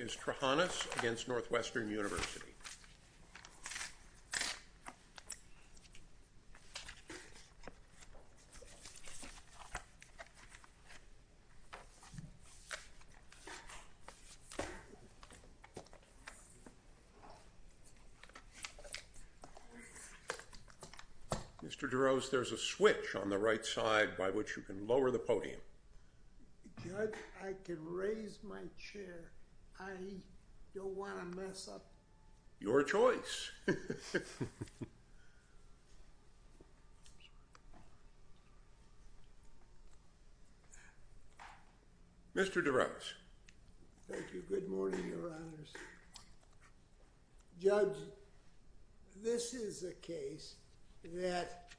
is Trahanas v. Northwestern University. Mr. DeRose, there's a switch on the right side by which you can lower the podium. Judge, I can raise my chair. I don't want to mess up. Your choice. Mr. DeRose. Thank you. Good morning, Your Honors. Judge, this is a case that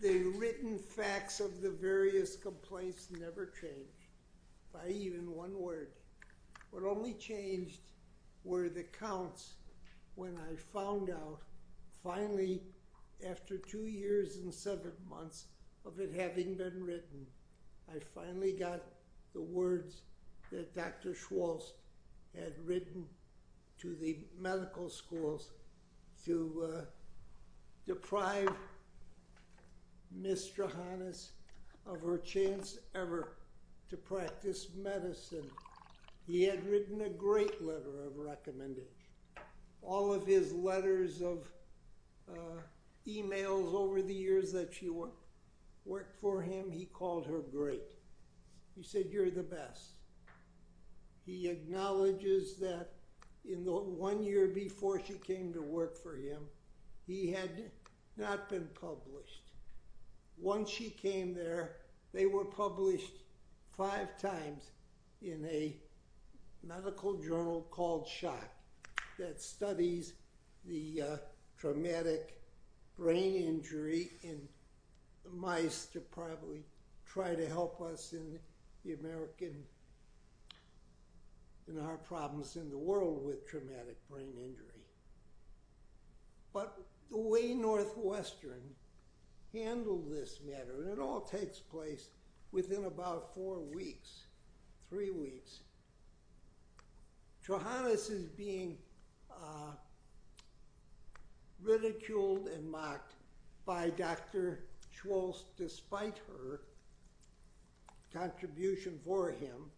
the written facts of the various complaints never changed, by even one word. What only changed were the counts when I found out, finally, after two years and seven months of it having been written, I finally got the words that Dr. Schwartz had written to the medical schools to deprive Ms. Trahanas of her chance ever to practice medicine. He had written a great letter of recommendation. All of his letters of emails over the years that she worked for him, he called her great. He said, you're the best. He acknowledges that in the one year before she came to work for him, he had not been published. Once she came there, they were published five times in a medical journal called Shock, that studies the traumatic brain injury in mice to probably try to help us in our problems in the world with traumatic brain injury. But the way Northwestern handled this matter, and it all takes place within about four weeks, three weeks, Trahanas is being ridiculed and mocked by Dr. Schwartz despite her contribution for him,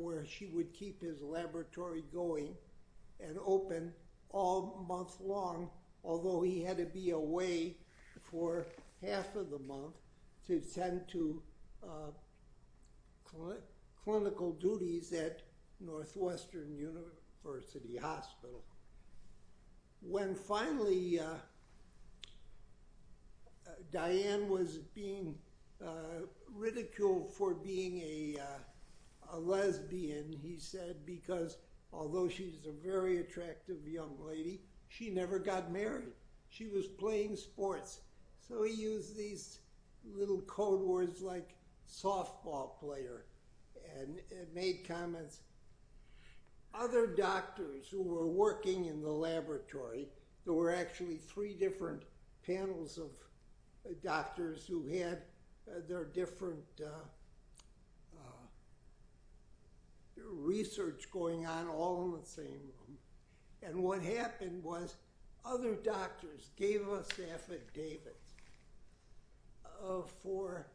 where she would keep his laboratory going and open all month long, although he had to be away for half of the month to tend to clinical duties at Northwestern University Hospital. When finally Diane was being ridiculed for being a lesbian, he said, because although she's a very attractive young lady, she never got married. She was playing sports. So he used these little code words like softball player and made comments. Other doctors who were working in the laboratory, there were actually three different panels of doctors who had their different research going on all in the same room. And what happened was other doctors gave us affidavits for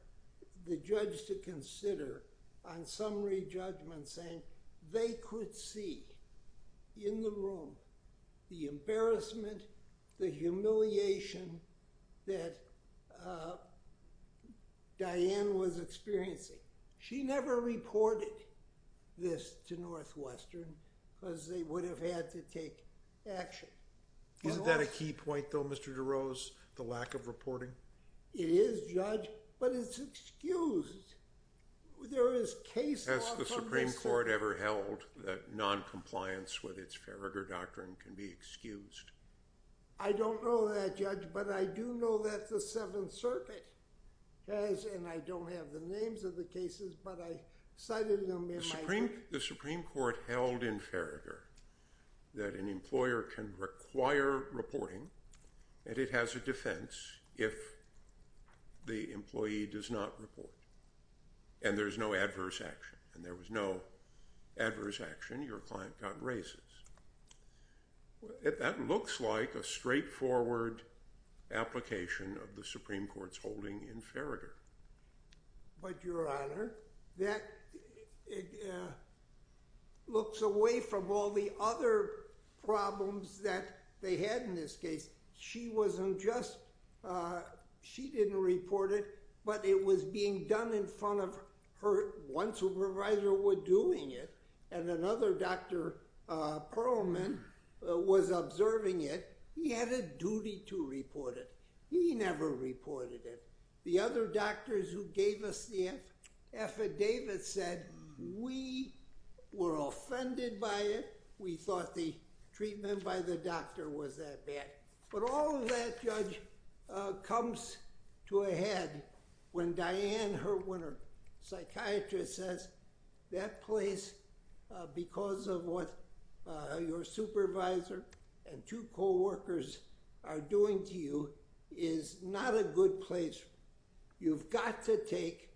the judge to consider on summary judgment saying they could see in the room the embarrassment, the humiliation that Diane was experiencing. She never reported this to Northwestern because they would have had to take action. Isn't that a key point though, Mr. DeRose, the lack of reporting? It is, Judge, but it's excused. Has the Supreme Court ever held that noncompliance with its Farragher Doctrine can be excused? I don't know that, Judge, but I do know that the Seventh Circuit has, and I don't have the names of the cases, but I cited them in my book. The Supreme Court held in Farragher that an employer can require reporting and it has a defense if the employee does not report and there's no adverse action and there was no adverse action, your client got racist. That looks like a straightforward application of the Supreme Court's holding in Farragher. But, your Honor, that looks away from all the other problems that they had in this case. She wasn't just, she didn't report it, but it was being done in front of her. One supervisor was doing it and another Dr. Perlman was observing it. He had a duty to report it. He never reported it. The other doctors who gave us the affidavit said, we were offended by it, we thought the treatment by the doctor was that bad. But all of that, Judge, comes to a head when Diane, her psychiatrist says, that place, because of what your supervisor and two coworkers are doing to you, is not a good place. You've got to take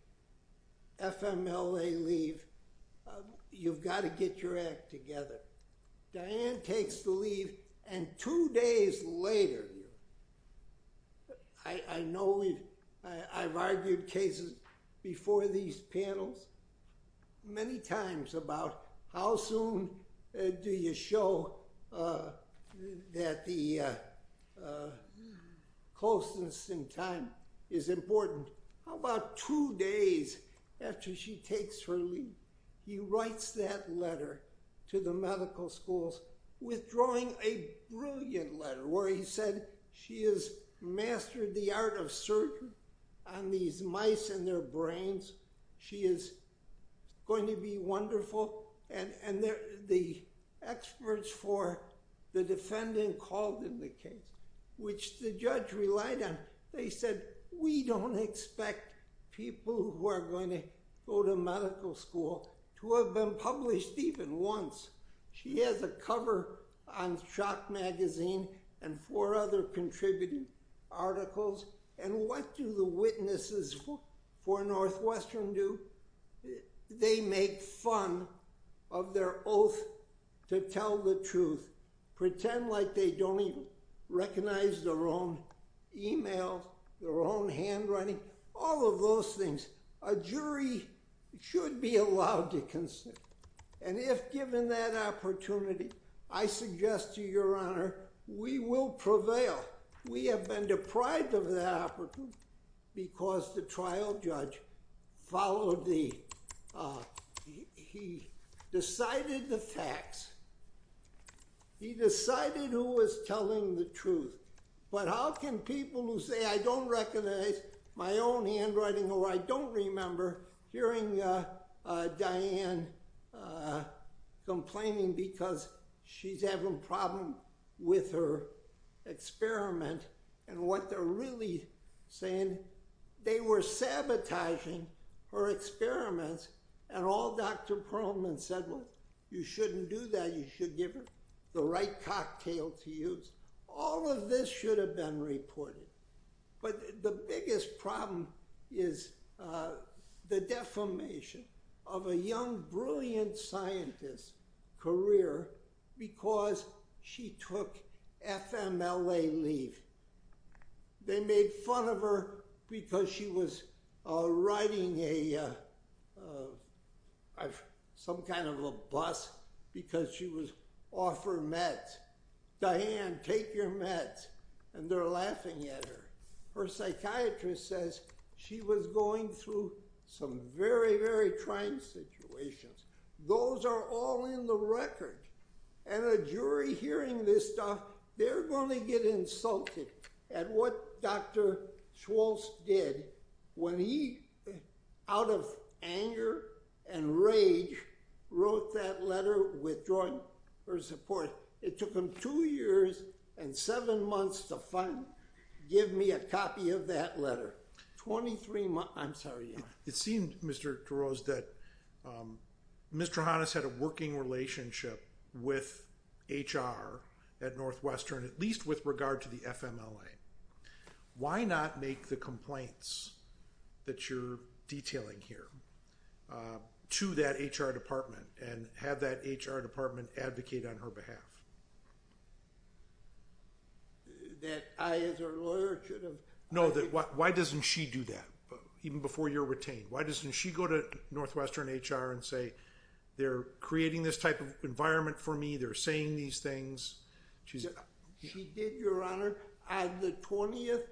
FMLA leave. You've got to get your act together. Diane takes the leave and two days later, I know I've argued cases before these panels many times about how soon do you show that the closeness in time is important. How about two days after she takes her leave? He writes that letter to the medical schools withdrawing a brilliant letter where he said she has mastered the art of surgery on these mice and their brains. She is going to be wonderful. And the experts for the defendant called in the case, which the judge relied on. They said, we don't expect people who are going to go to medical school to have been published even once. She has a cover on Shock Magazine and four other contributing articles. And what do the witnesses for Northwestern do? They make fun of their oath to tell the truth, pretend like they don't even recognize their own e-mails, their own handwriting, all of those things. A jury should be allowed to consent. And if given that opportunity, I suggest to your honor, we will prevail. But we have been deprived of that opportunity because the trial judge decided the facts. He decided who was telling the truth. But how can people who say I don't recognize my own handwriting or I don't remember hearing Diane complaining because she's having a problem with her experiment and what they're really saying, they were sabotaging her experiments and all Dr. Perlman said was, you shouldn't do that. You should give her the right cocktail to use. All of this should have been reported. But the biggest problem is the defamation of a young, brilliant scientist career because she took FMLA leave. They made fun of her because she was riding some kind of a bus because she was off her meds. Diane, take your meds. And they're laughing at her. Her psychiatrist says she was going through some very, very trying situations. Those are all in the record. And a jury hearing this stuff, they're going to get insulted at what Dr. Schwartz did when he, out of anger and rage, wrote that letter withdrawing her support. It took him two years and seven months to finally give me a copy of that letter. 23 months. I'm sorry, your honor. It seemed, Mr. DeRose, that Ms. Trahanis had a working relationship with HR at Northwestern, at least with regard to the FMLA. Why not make the complaints that you're detailing here to that HR department and have that HR department advocate on her behalf? That I, as her lawyer, should have? No, why doesn't she do that, even before you're retained? Why doesn't she go to Northwestern HR and say, they're creating this type of environment for me, they're saying these things? She did, your honor. On the 20th,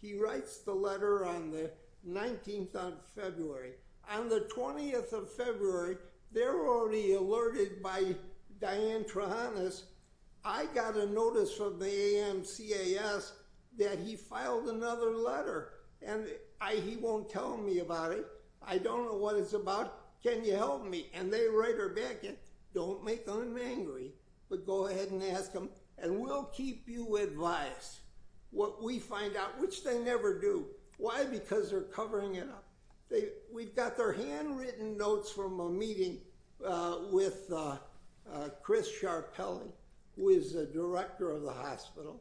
he writes the letter on the 19th of February. On the 20th of February, they're already alerted by Diane Trahanis, I got a notice from the AMCAS that he filed another letter, and he won't tell me about it, I don't know what it's about, can you help me? And they write her back, and don't make them angry, but go ahead and ask them, and we'll keep you advised. What we find out, which they never do. Why? Because they're covering it up. We've got their handwritten notes from a meeting with Chris Sharpelli, who is the director of the hospital.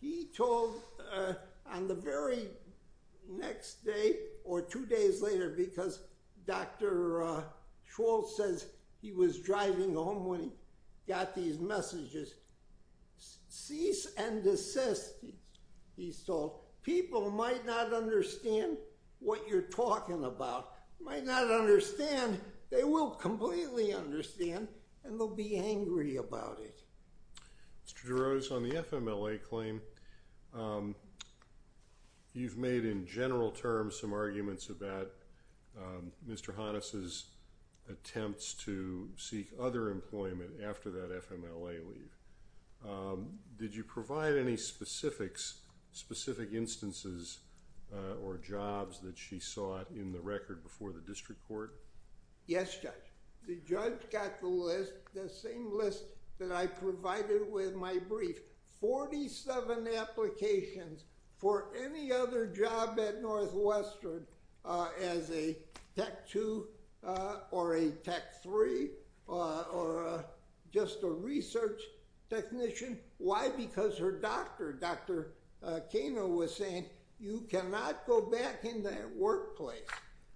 He told, on the very next day, or two days later, because Dr. Schwartz says he was driving home when he got these messages, cease and desist, he's told, people might not understand what you're talking about, might not understand, they will completely understand, and they'll be angry about it. Mr. Jarosz, on the FMLA claim, you've made, in general terms, some arguments about Mr. Hanus's attempts to seek other employment after that FMLA leave. Did you provide any specifics, specific instances, or jobs that she sought in the record before the district court? Yes, Judge. The judge got the list, the same list that I provided with my brief, 47 applications for any other job at Northwestern as a Tech 2 or a Tech 3 or just a research technician. Why? Because her doctor, Dr. Kano, was saying, you cannot go back in that workplace.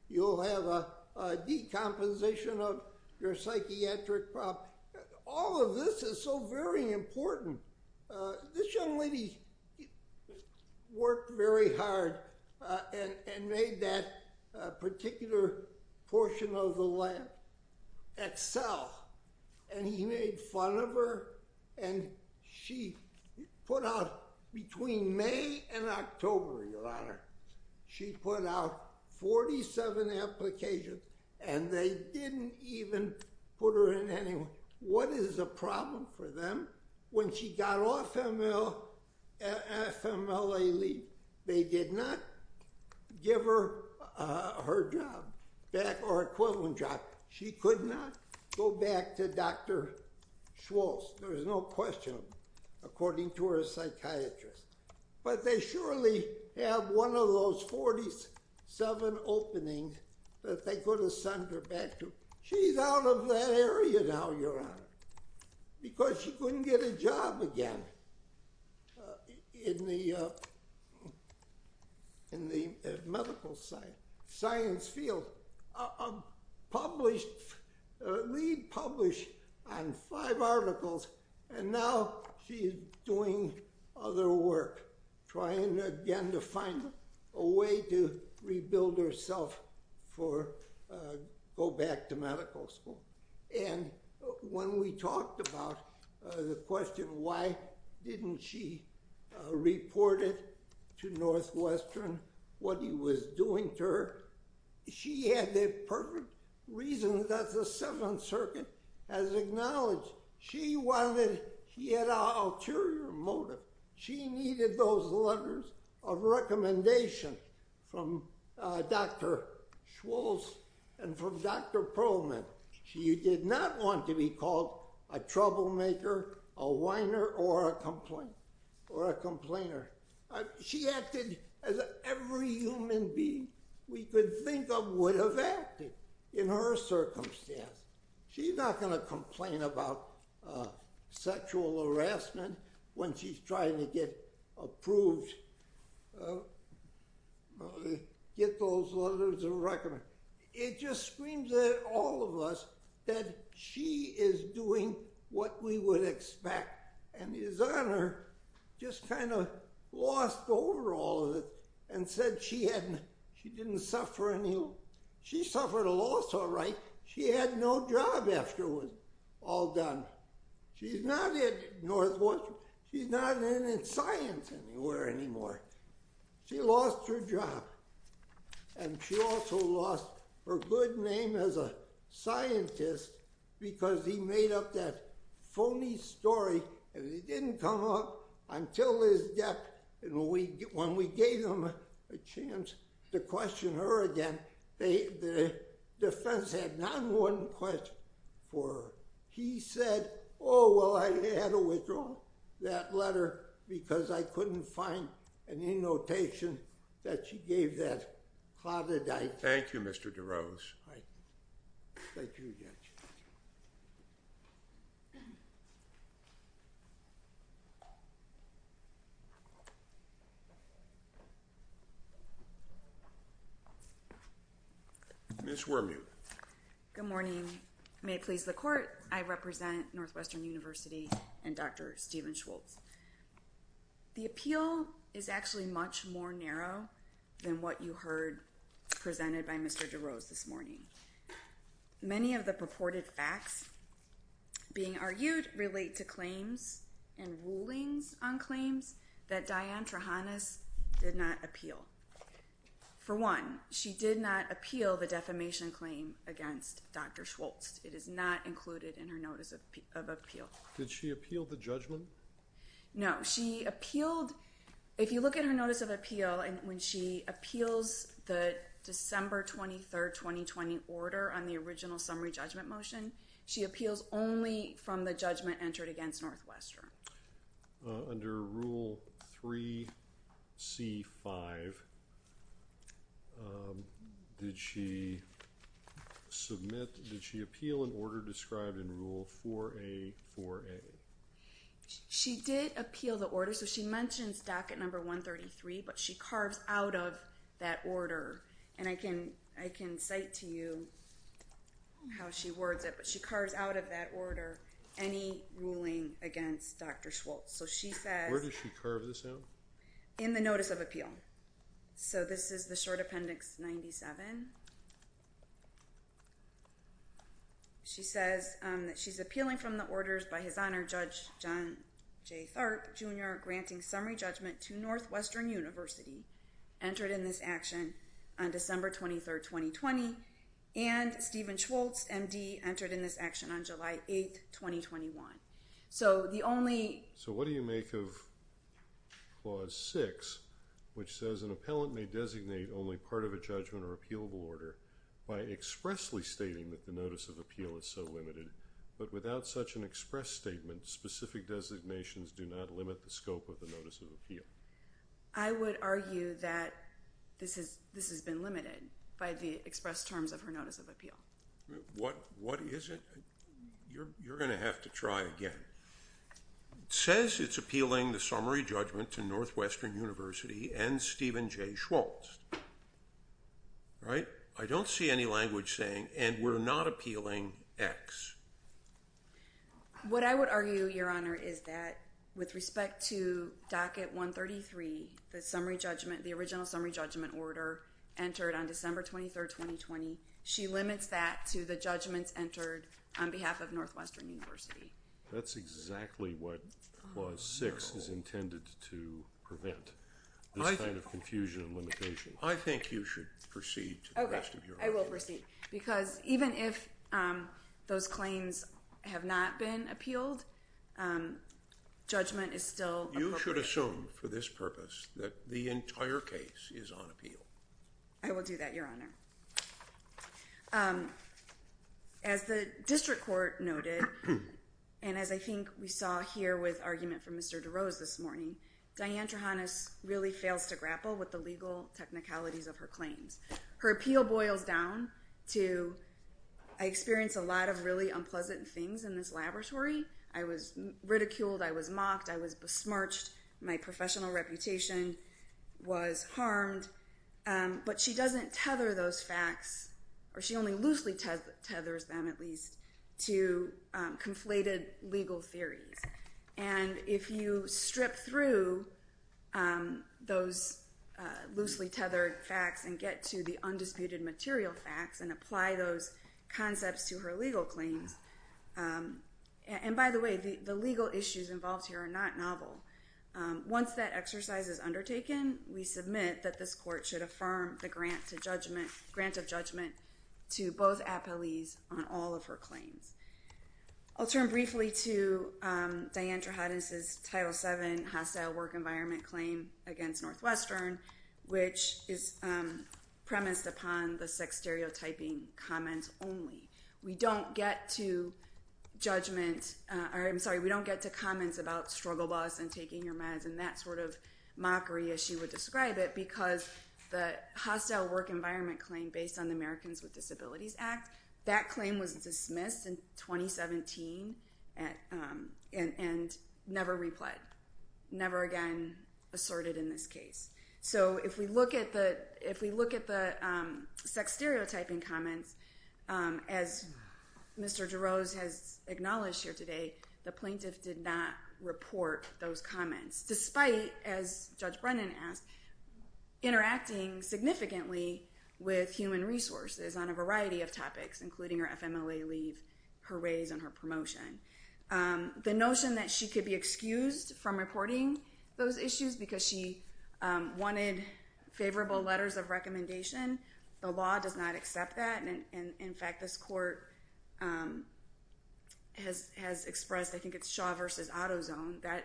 You'll have a decomposition of your psychiatric problem. All of this is so very important. This young lady worked very hard and made that particular portion of the lab excel, and he made fun of her, and she put out, between May and October, Your Honor, she put out 47 applications, and they didn't even put her in any. What is a problem for them? When she got off FMLA leave, they did not give her her job back or equivalent job. She could not go back to Dr. Schultz. There is no question, according to her psychiatrist. But they surely have one of those 47 openings that they could have sent her back to. She's out of that area now, Your Honor, because she couldn't get a job again in the medical science field. Published, re-published on five articles, and now she's doing other work, trying again to find a way to rebuild herself to go back to medical school. And when we talked about the question, why didn't she report it to Northwestern, what he was doing to her, she had the perfect reason, that the Seventh Circuit has acknowledged. She had an ulterior motive. She needed those letters of recommendation from Dr. Schultz and from Dr. Perlman. She did not want to be called a troublemaker, a whiner, or a complainer. She acted as every human being we could think of would have acted, in her circumstance. She's not going to complain about sexual harassment when she's trying to get approved, get those letters of recommendation. It just screams at all of us that she is doing what we would expect, and His Honor just kind of lost over all of it and said she didn't suffer any, she suffered a loss, all right. She had no job afterwards, all done. She's not at Northwestern, she's not in science anywhere anymore. She lost her job, and she also lost her good name as a scientist because he made up that phony story and it didn't come up until his death when we gave him a chance to question her again. The defense had not one question for her. He said, oh, well, I had to withdraw that letter because I couldn't find any notation that she gave that claudidite. Thank you, Mr. DeRose. Thank you, Judge. Ms. Wormuth. Good morning. May it please the Court, I represent Northwestern University and Dr. Stephen Schultz. The appeal is actually much more narrow than what you heard presented by Mr. DeRose this morning. Many of the purported facts being argued relate to claims and rulings on claims that Diane Trehanos did not appeal. For one, she did not appeal the defamation claim against Dr. Schultz. It is not included in her notice of appeal. Did she appeal the judgment? No, she appealed... If you look at her notice of appeal, when she appeals the December 23, 2020 order on the original summary judgment motion, she appeals only from the judgment entered against Northwestern. Under Rule 3C-5, did she submit, did she appeal an order described in Rule 4A-4A? She did appeal the order, so she mentions docket number 133, but she carves out of that order, and I can cite to you how she words it, but she carves out of that order any ruling against Dr. Schultz. So she says... Where does she carve this out? In the notice of appeal. So this is the short appendix 97. She says that she's appealing from the orders by His Honor Judge John J. Tharp Jr. granting summary judgment to Northwestern University, entered in this action on December 23, 2020, and Stephen Schultz, M.D., entered in this action on July 8, 2021. So the only... So what do you make of Clause 6, which says an appellant may designate only part of a judgment or appealable order by expressly stating that the notice of appeal is so limited, but without such an express statement, specific designations do not limit the scope of the notice of appeal? I would argue that this has been limited by the express terms of her notice of appeal. What is it? You're going to have to try again. It says it's appealing the summary judgment to Northwestern University and Stephen J. Schultz. Right? I don't see any language saying, and we're not appealing X. What I would argue, Your Honor, is that with respect to Docket 133, the summary judgment, the original summary judgment order entered on December 23, 2020, she limits that to the judgments entered on behalf of Northwestern University. That's exactly what Clause 6 is intended to prevent, this kind of confusion and limitation. I think you should proceed to the rest of your arguments. Okay, I will proceed, because even if those claims have not been appealed, judgment is still appropriate. You should assume for this purpose that the entire case is on appeal. I will do that, Your Honor. As the district court noted, and as I think we saw here with argument from Mr. DeRose this morning, Diane Trehanos really fails to grapple with the legal technicalities of her claims. Her appeal boils down to, I experienced a lot of really unpleasant things in this laboratory. I was ridiculed, I was mocked, I was besmirched. My professional reputation was harmed. But she doesn't tether those facts, or she only loosely tethers them, at least, to conflated legal theories. And if you strip through those loosely tethered facts and get to the undisputed material facts and apply those concepts to her legal claims... And by the way, the legal issues involved here are not novel. Once that exercise is undertaken, we submit that this court should affirm the grant of judgment to both appellees on all of her claims. I'll turn briefly to Diane Trehanos' Title VII Hostile Work Environment Claim against Northwestern, which is premised upon the sex-stereotyping comments only. We don't get to judgment... I'm sorry, we don't get to comments about struggle boss and taking your meds and that sort of mockery, as she would describe it, because the Hostile Work Environment Claim based on the Americans with Disabilities Act, that claim was dismissed in 2017 and never replied, never again assorted in this case. So if we look at the sex-stereotyping comments, as Mr. Jarosz has acknowledged here today, the plaintiff did not report those comments, despite, as Judge Brennan asked, interacting significantly with human resources on a variety of topics, including her FMLA leave, her raise, and her promotion. The notion that she could be excused from reporting those issues because she wanted favorable letters of recommendation, the law does not accept that. In fact, this court has expressed, I think it's Shaw v. Autozone, that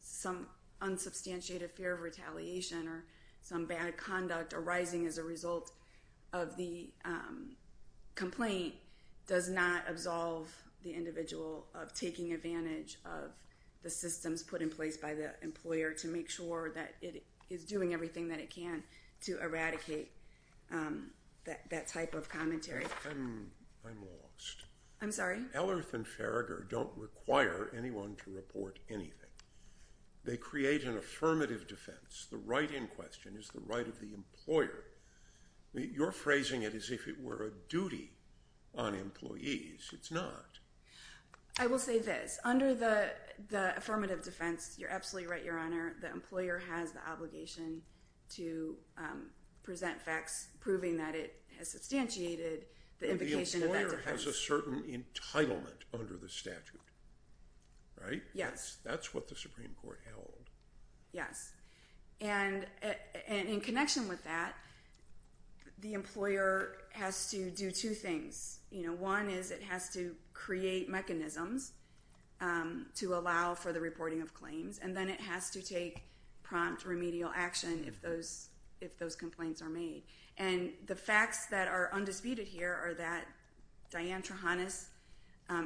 some unsubstantiated fear of retaliation or some bad conduct arising as a result of the complaint does not absolve the individual of taking advantage of the systems put in place by the employer to make sure that it is doing everything that it can to eradicate that type of commentary. I'm lost. I'm sorry? Ellerth and Farragher don't require anyone to report anything. They create an affirmative defense. The right in question is the right of the employer. You're phrasing it as if it were a duty on employees. It's not. I will say this. Under the affirmative defense, you're absolutely right, Your Honor, the employer has the obligation to present facts proving that it has substantiated the implication of that defense. The employer has a certain entitlement under the statute, right? Yes. That's what the Supreme Court held. Yes. And in connection with that, the employer has to do two things. One is it has to create mechanisms to allow for the reporting of claims, and then it has to take prompt remedial action if those complaints are made. And the facts that are undisputed here are that Diane Trehanas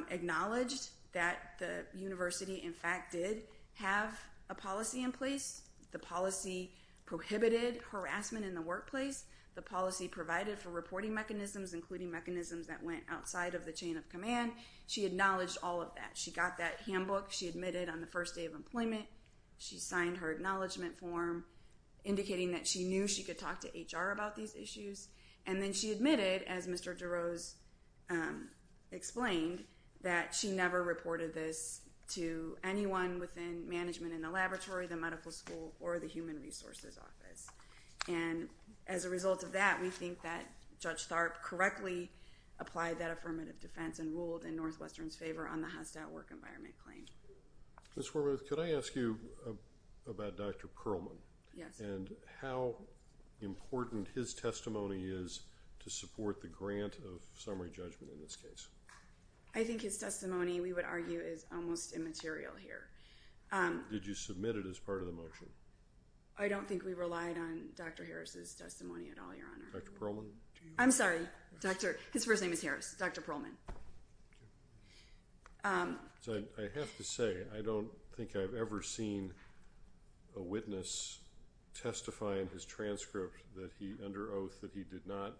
acknowledged that the university, in fact, did have a policy in place. The policy prohibited harassment in the workplace. The policy provided for reporting mechanisms, including mechanisms that went outside of the chain of command. She acknowledged all of that. She got that handbook. She admitted on the first day of employment. She signed her acknowledgment form, indicating that she knew she could talk to HR about these issues. And then she admitted, as Mr. DeRose explained, that she never reported this to anyone within management in the laboratory, the medical school, or the human resources office. And as a result of that, we think that Judge Tharp correctly applied that affirmative defense and ruled in Northwestern's favor on the hostile work environment claim. Ms. Wormuth, could I ask you about Dr. Perlman? Yes. And how important his testimony is to support the grant of summary judgment in this case? I think his testimony, we would argue, is almost immaterial here. Did you submit it as part of the motion? I don't think we relied on Dr. Harris's testimony at all, Your Honor. Dr. Perlman? I'm sorry. His first name is Harris. Dr. Perlman. So I have to say, I don't think I've ever seen a witness testify in his transcript that he, under oath, that he did not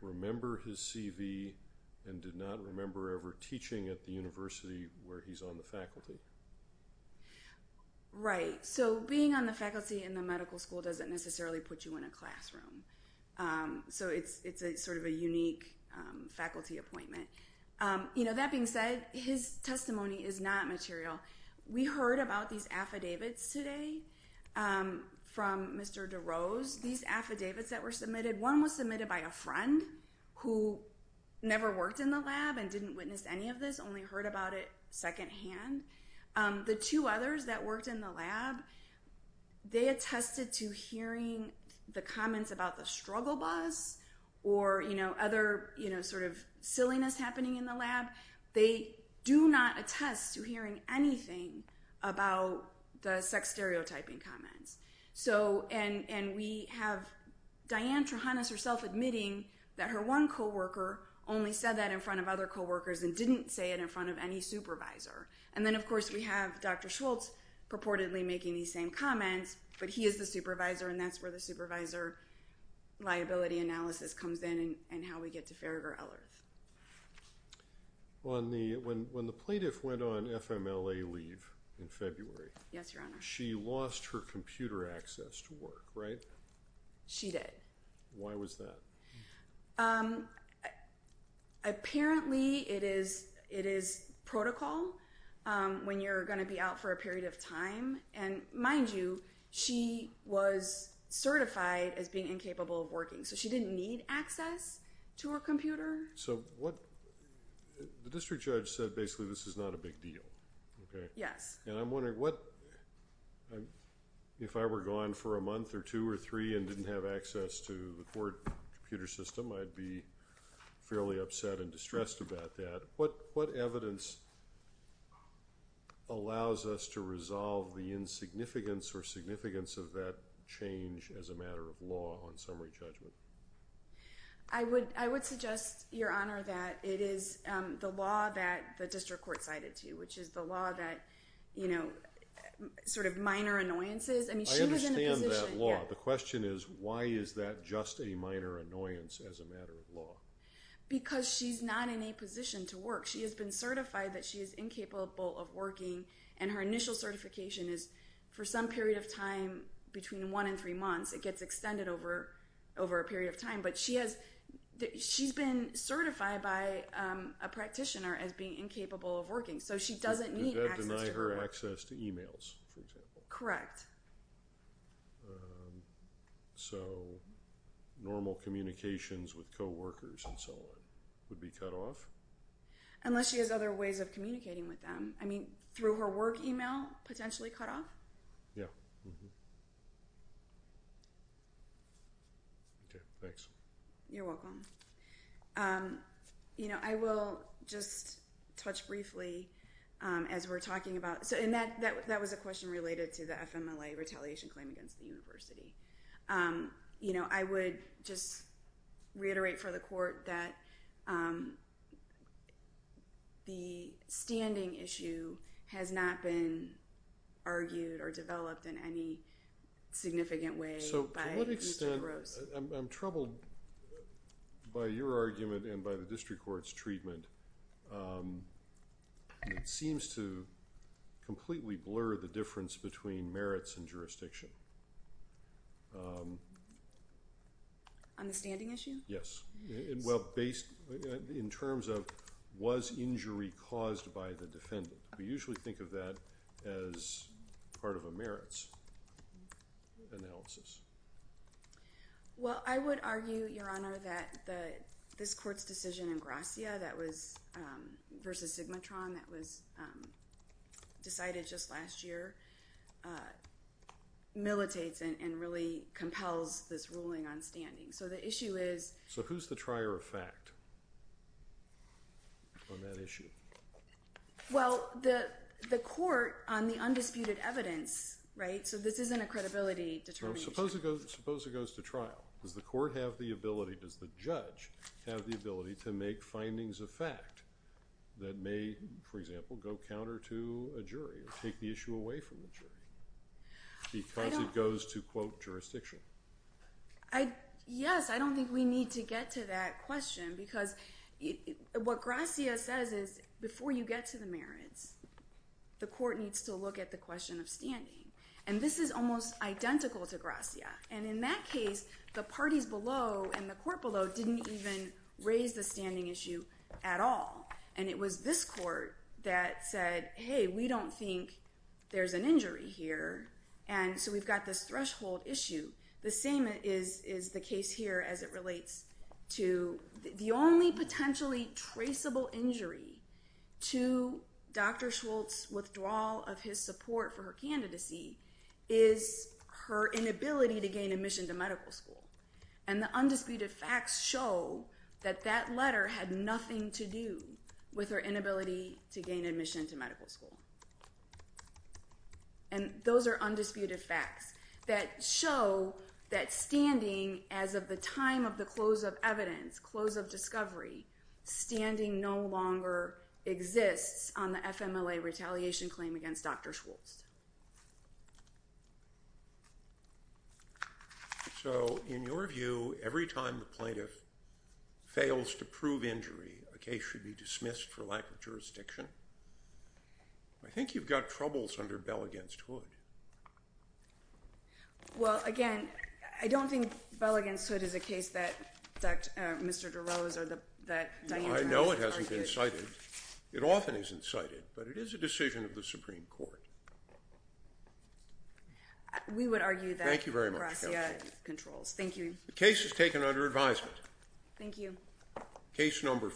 remember his CV and did not remember ever teaching at the university where he's on the faculty. Right. So being on the faculty in the medical school doesn't necessarily put you in a classroom. So it's sort of a unique faculty appointment. That being said, his testimony is not material. We heard about these affidavits today from Mr. DeRose. These affidavits that were submitted, one was submitted by a friend who never worked in the lab and didn't witness any of this, only heard about it secondhand. The two others that worked in the lab, they attested to hearing the comments about the struggle boss or other sort of silliness happening in the lab. They do not attest to hearing anything about the sex stereotyping comments. And we have Diane Trehanas herself admitting that her one co-worker only said that in front of other co-workers and didn't say it in front of any supervisor. And then, of course, we have Dr. Schultz purportedly making these same comments, but he is the supervisor and that's where the supervisor liability analysis comes in and how we get to Farragher-Ellerth. When the plaintiff went on FMLA leave in February, she lost her computer access to work, right? She did. Why was that? Apparently, it is protocol when you're going to be out for a period of time. And mind you, she was certified as being incapable of working, so she didn't need access to her computer. So what the district judge said basically this is not a big deal, okay? Yes. And I'm wondering what if I were gone for a month or two or three and didn't have access to the court computer system, I'd be fairly upset and distressed about that. What evidence allows us to resolve the insignificance or significance of that change as a matter of law on summary judgment? I would suggest, Your Honor, that it is the law that the district court cited to you, which is the law that sort of minor annoyances. I understand that law. The question is why is that just a minor annoyance as a matter of law? Because she's not in a position to work. She has been certified that she is incapable of working, and her initial certification is for some period of time between one and three months. It gets extended over a period of time. But she's been certified by a practitioner as being incapable of working, so she doesn't need access to her work. Did that deny her access to emails, for example? Correct. So normal communications with co-workers and so on would be cut off? Unless she has other ways of communicating with them. I mean, through her work email, potentially cut off? Yeah. Okay, thanks. You're welcome. You know, I will just touch briefly as we're talking about And that was a question related to the FMLA retaliation claim against the university. You know, I would just reiterate for the court that the standing issue has not been argued or developed in any significant way by E.J. Rose. So to what extent, I'm troubled by your argument and by the district court's treatment. It seems to completely blur the difference between merits and jurisdiction. On the standing issue? Yes. Well, in terms of was injury caused by the defendant. We usually think of that as part of a merits analysis. Well, I would argue, Your Honor, that this court's decision in Gracia versus Sigmatron that was decided just last year, militates and really compels this ruling on standing. So the issue is So who's the trier of fact on that issue? Well, the court on the undisputed evidence, right? So this isn't a credibility determination. Suppose it goes to trial. Does the court have the ability, does the judge have the ability to make findings of fact that may, for example, go counter to a jury or take the issue away from the jury? Because it goes to, quote, jurisdiction. Yes, I don't think we need to get to that question because what Gracia says is before you get to the merits, the court needs to look at the question of standing. And this is almost identical to Gracia. And in that case, the parties below and the court below didn't even raise the standing issue at all. And it was this court that said, hey, we don't think there's an injury here. And so we've got this threshold issue. The same is the case here as it relates to the only potentially traceable injury to Dr. Schultz's withdrawal of his support for her candidacy is her inability to gain admission to medical school. And the undisputed facts show that that letter had nothing to do with her inability to gain admission to medical school. And those are undisputed facts that show that standing as of the time of the close of evidence, close of discovery, standing no longer exists on the FMLA retaliation claim against Dr. Schultz. So in your view, every time the plaintiff fails to prove injury, a case should be dismissed for lack of jurisdiction? I think you've got troubles under Bell against Hood. Well, again, I don't think Bell against Hood is a case that Mr. DeRose or that Diane DeRose would argue. No, I know it hasn't been cited. It often isn't cited, but it is a decision of the Supreme Court. We would argue that Barassia controls. Thank you very much. Thank you. The case is taken under advisement. Thank you. Case number five.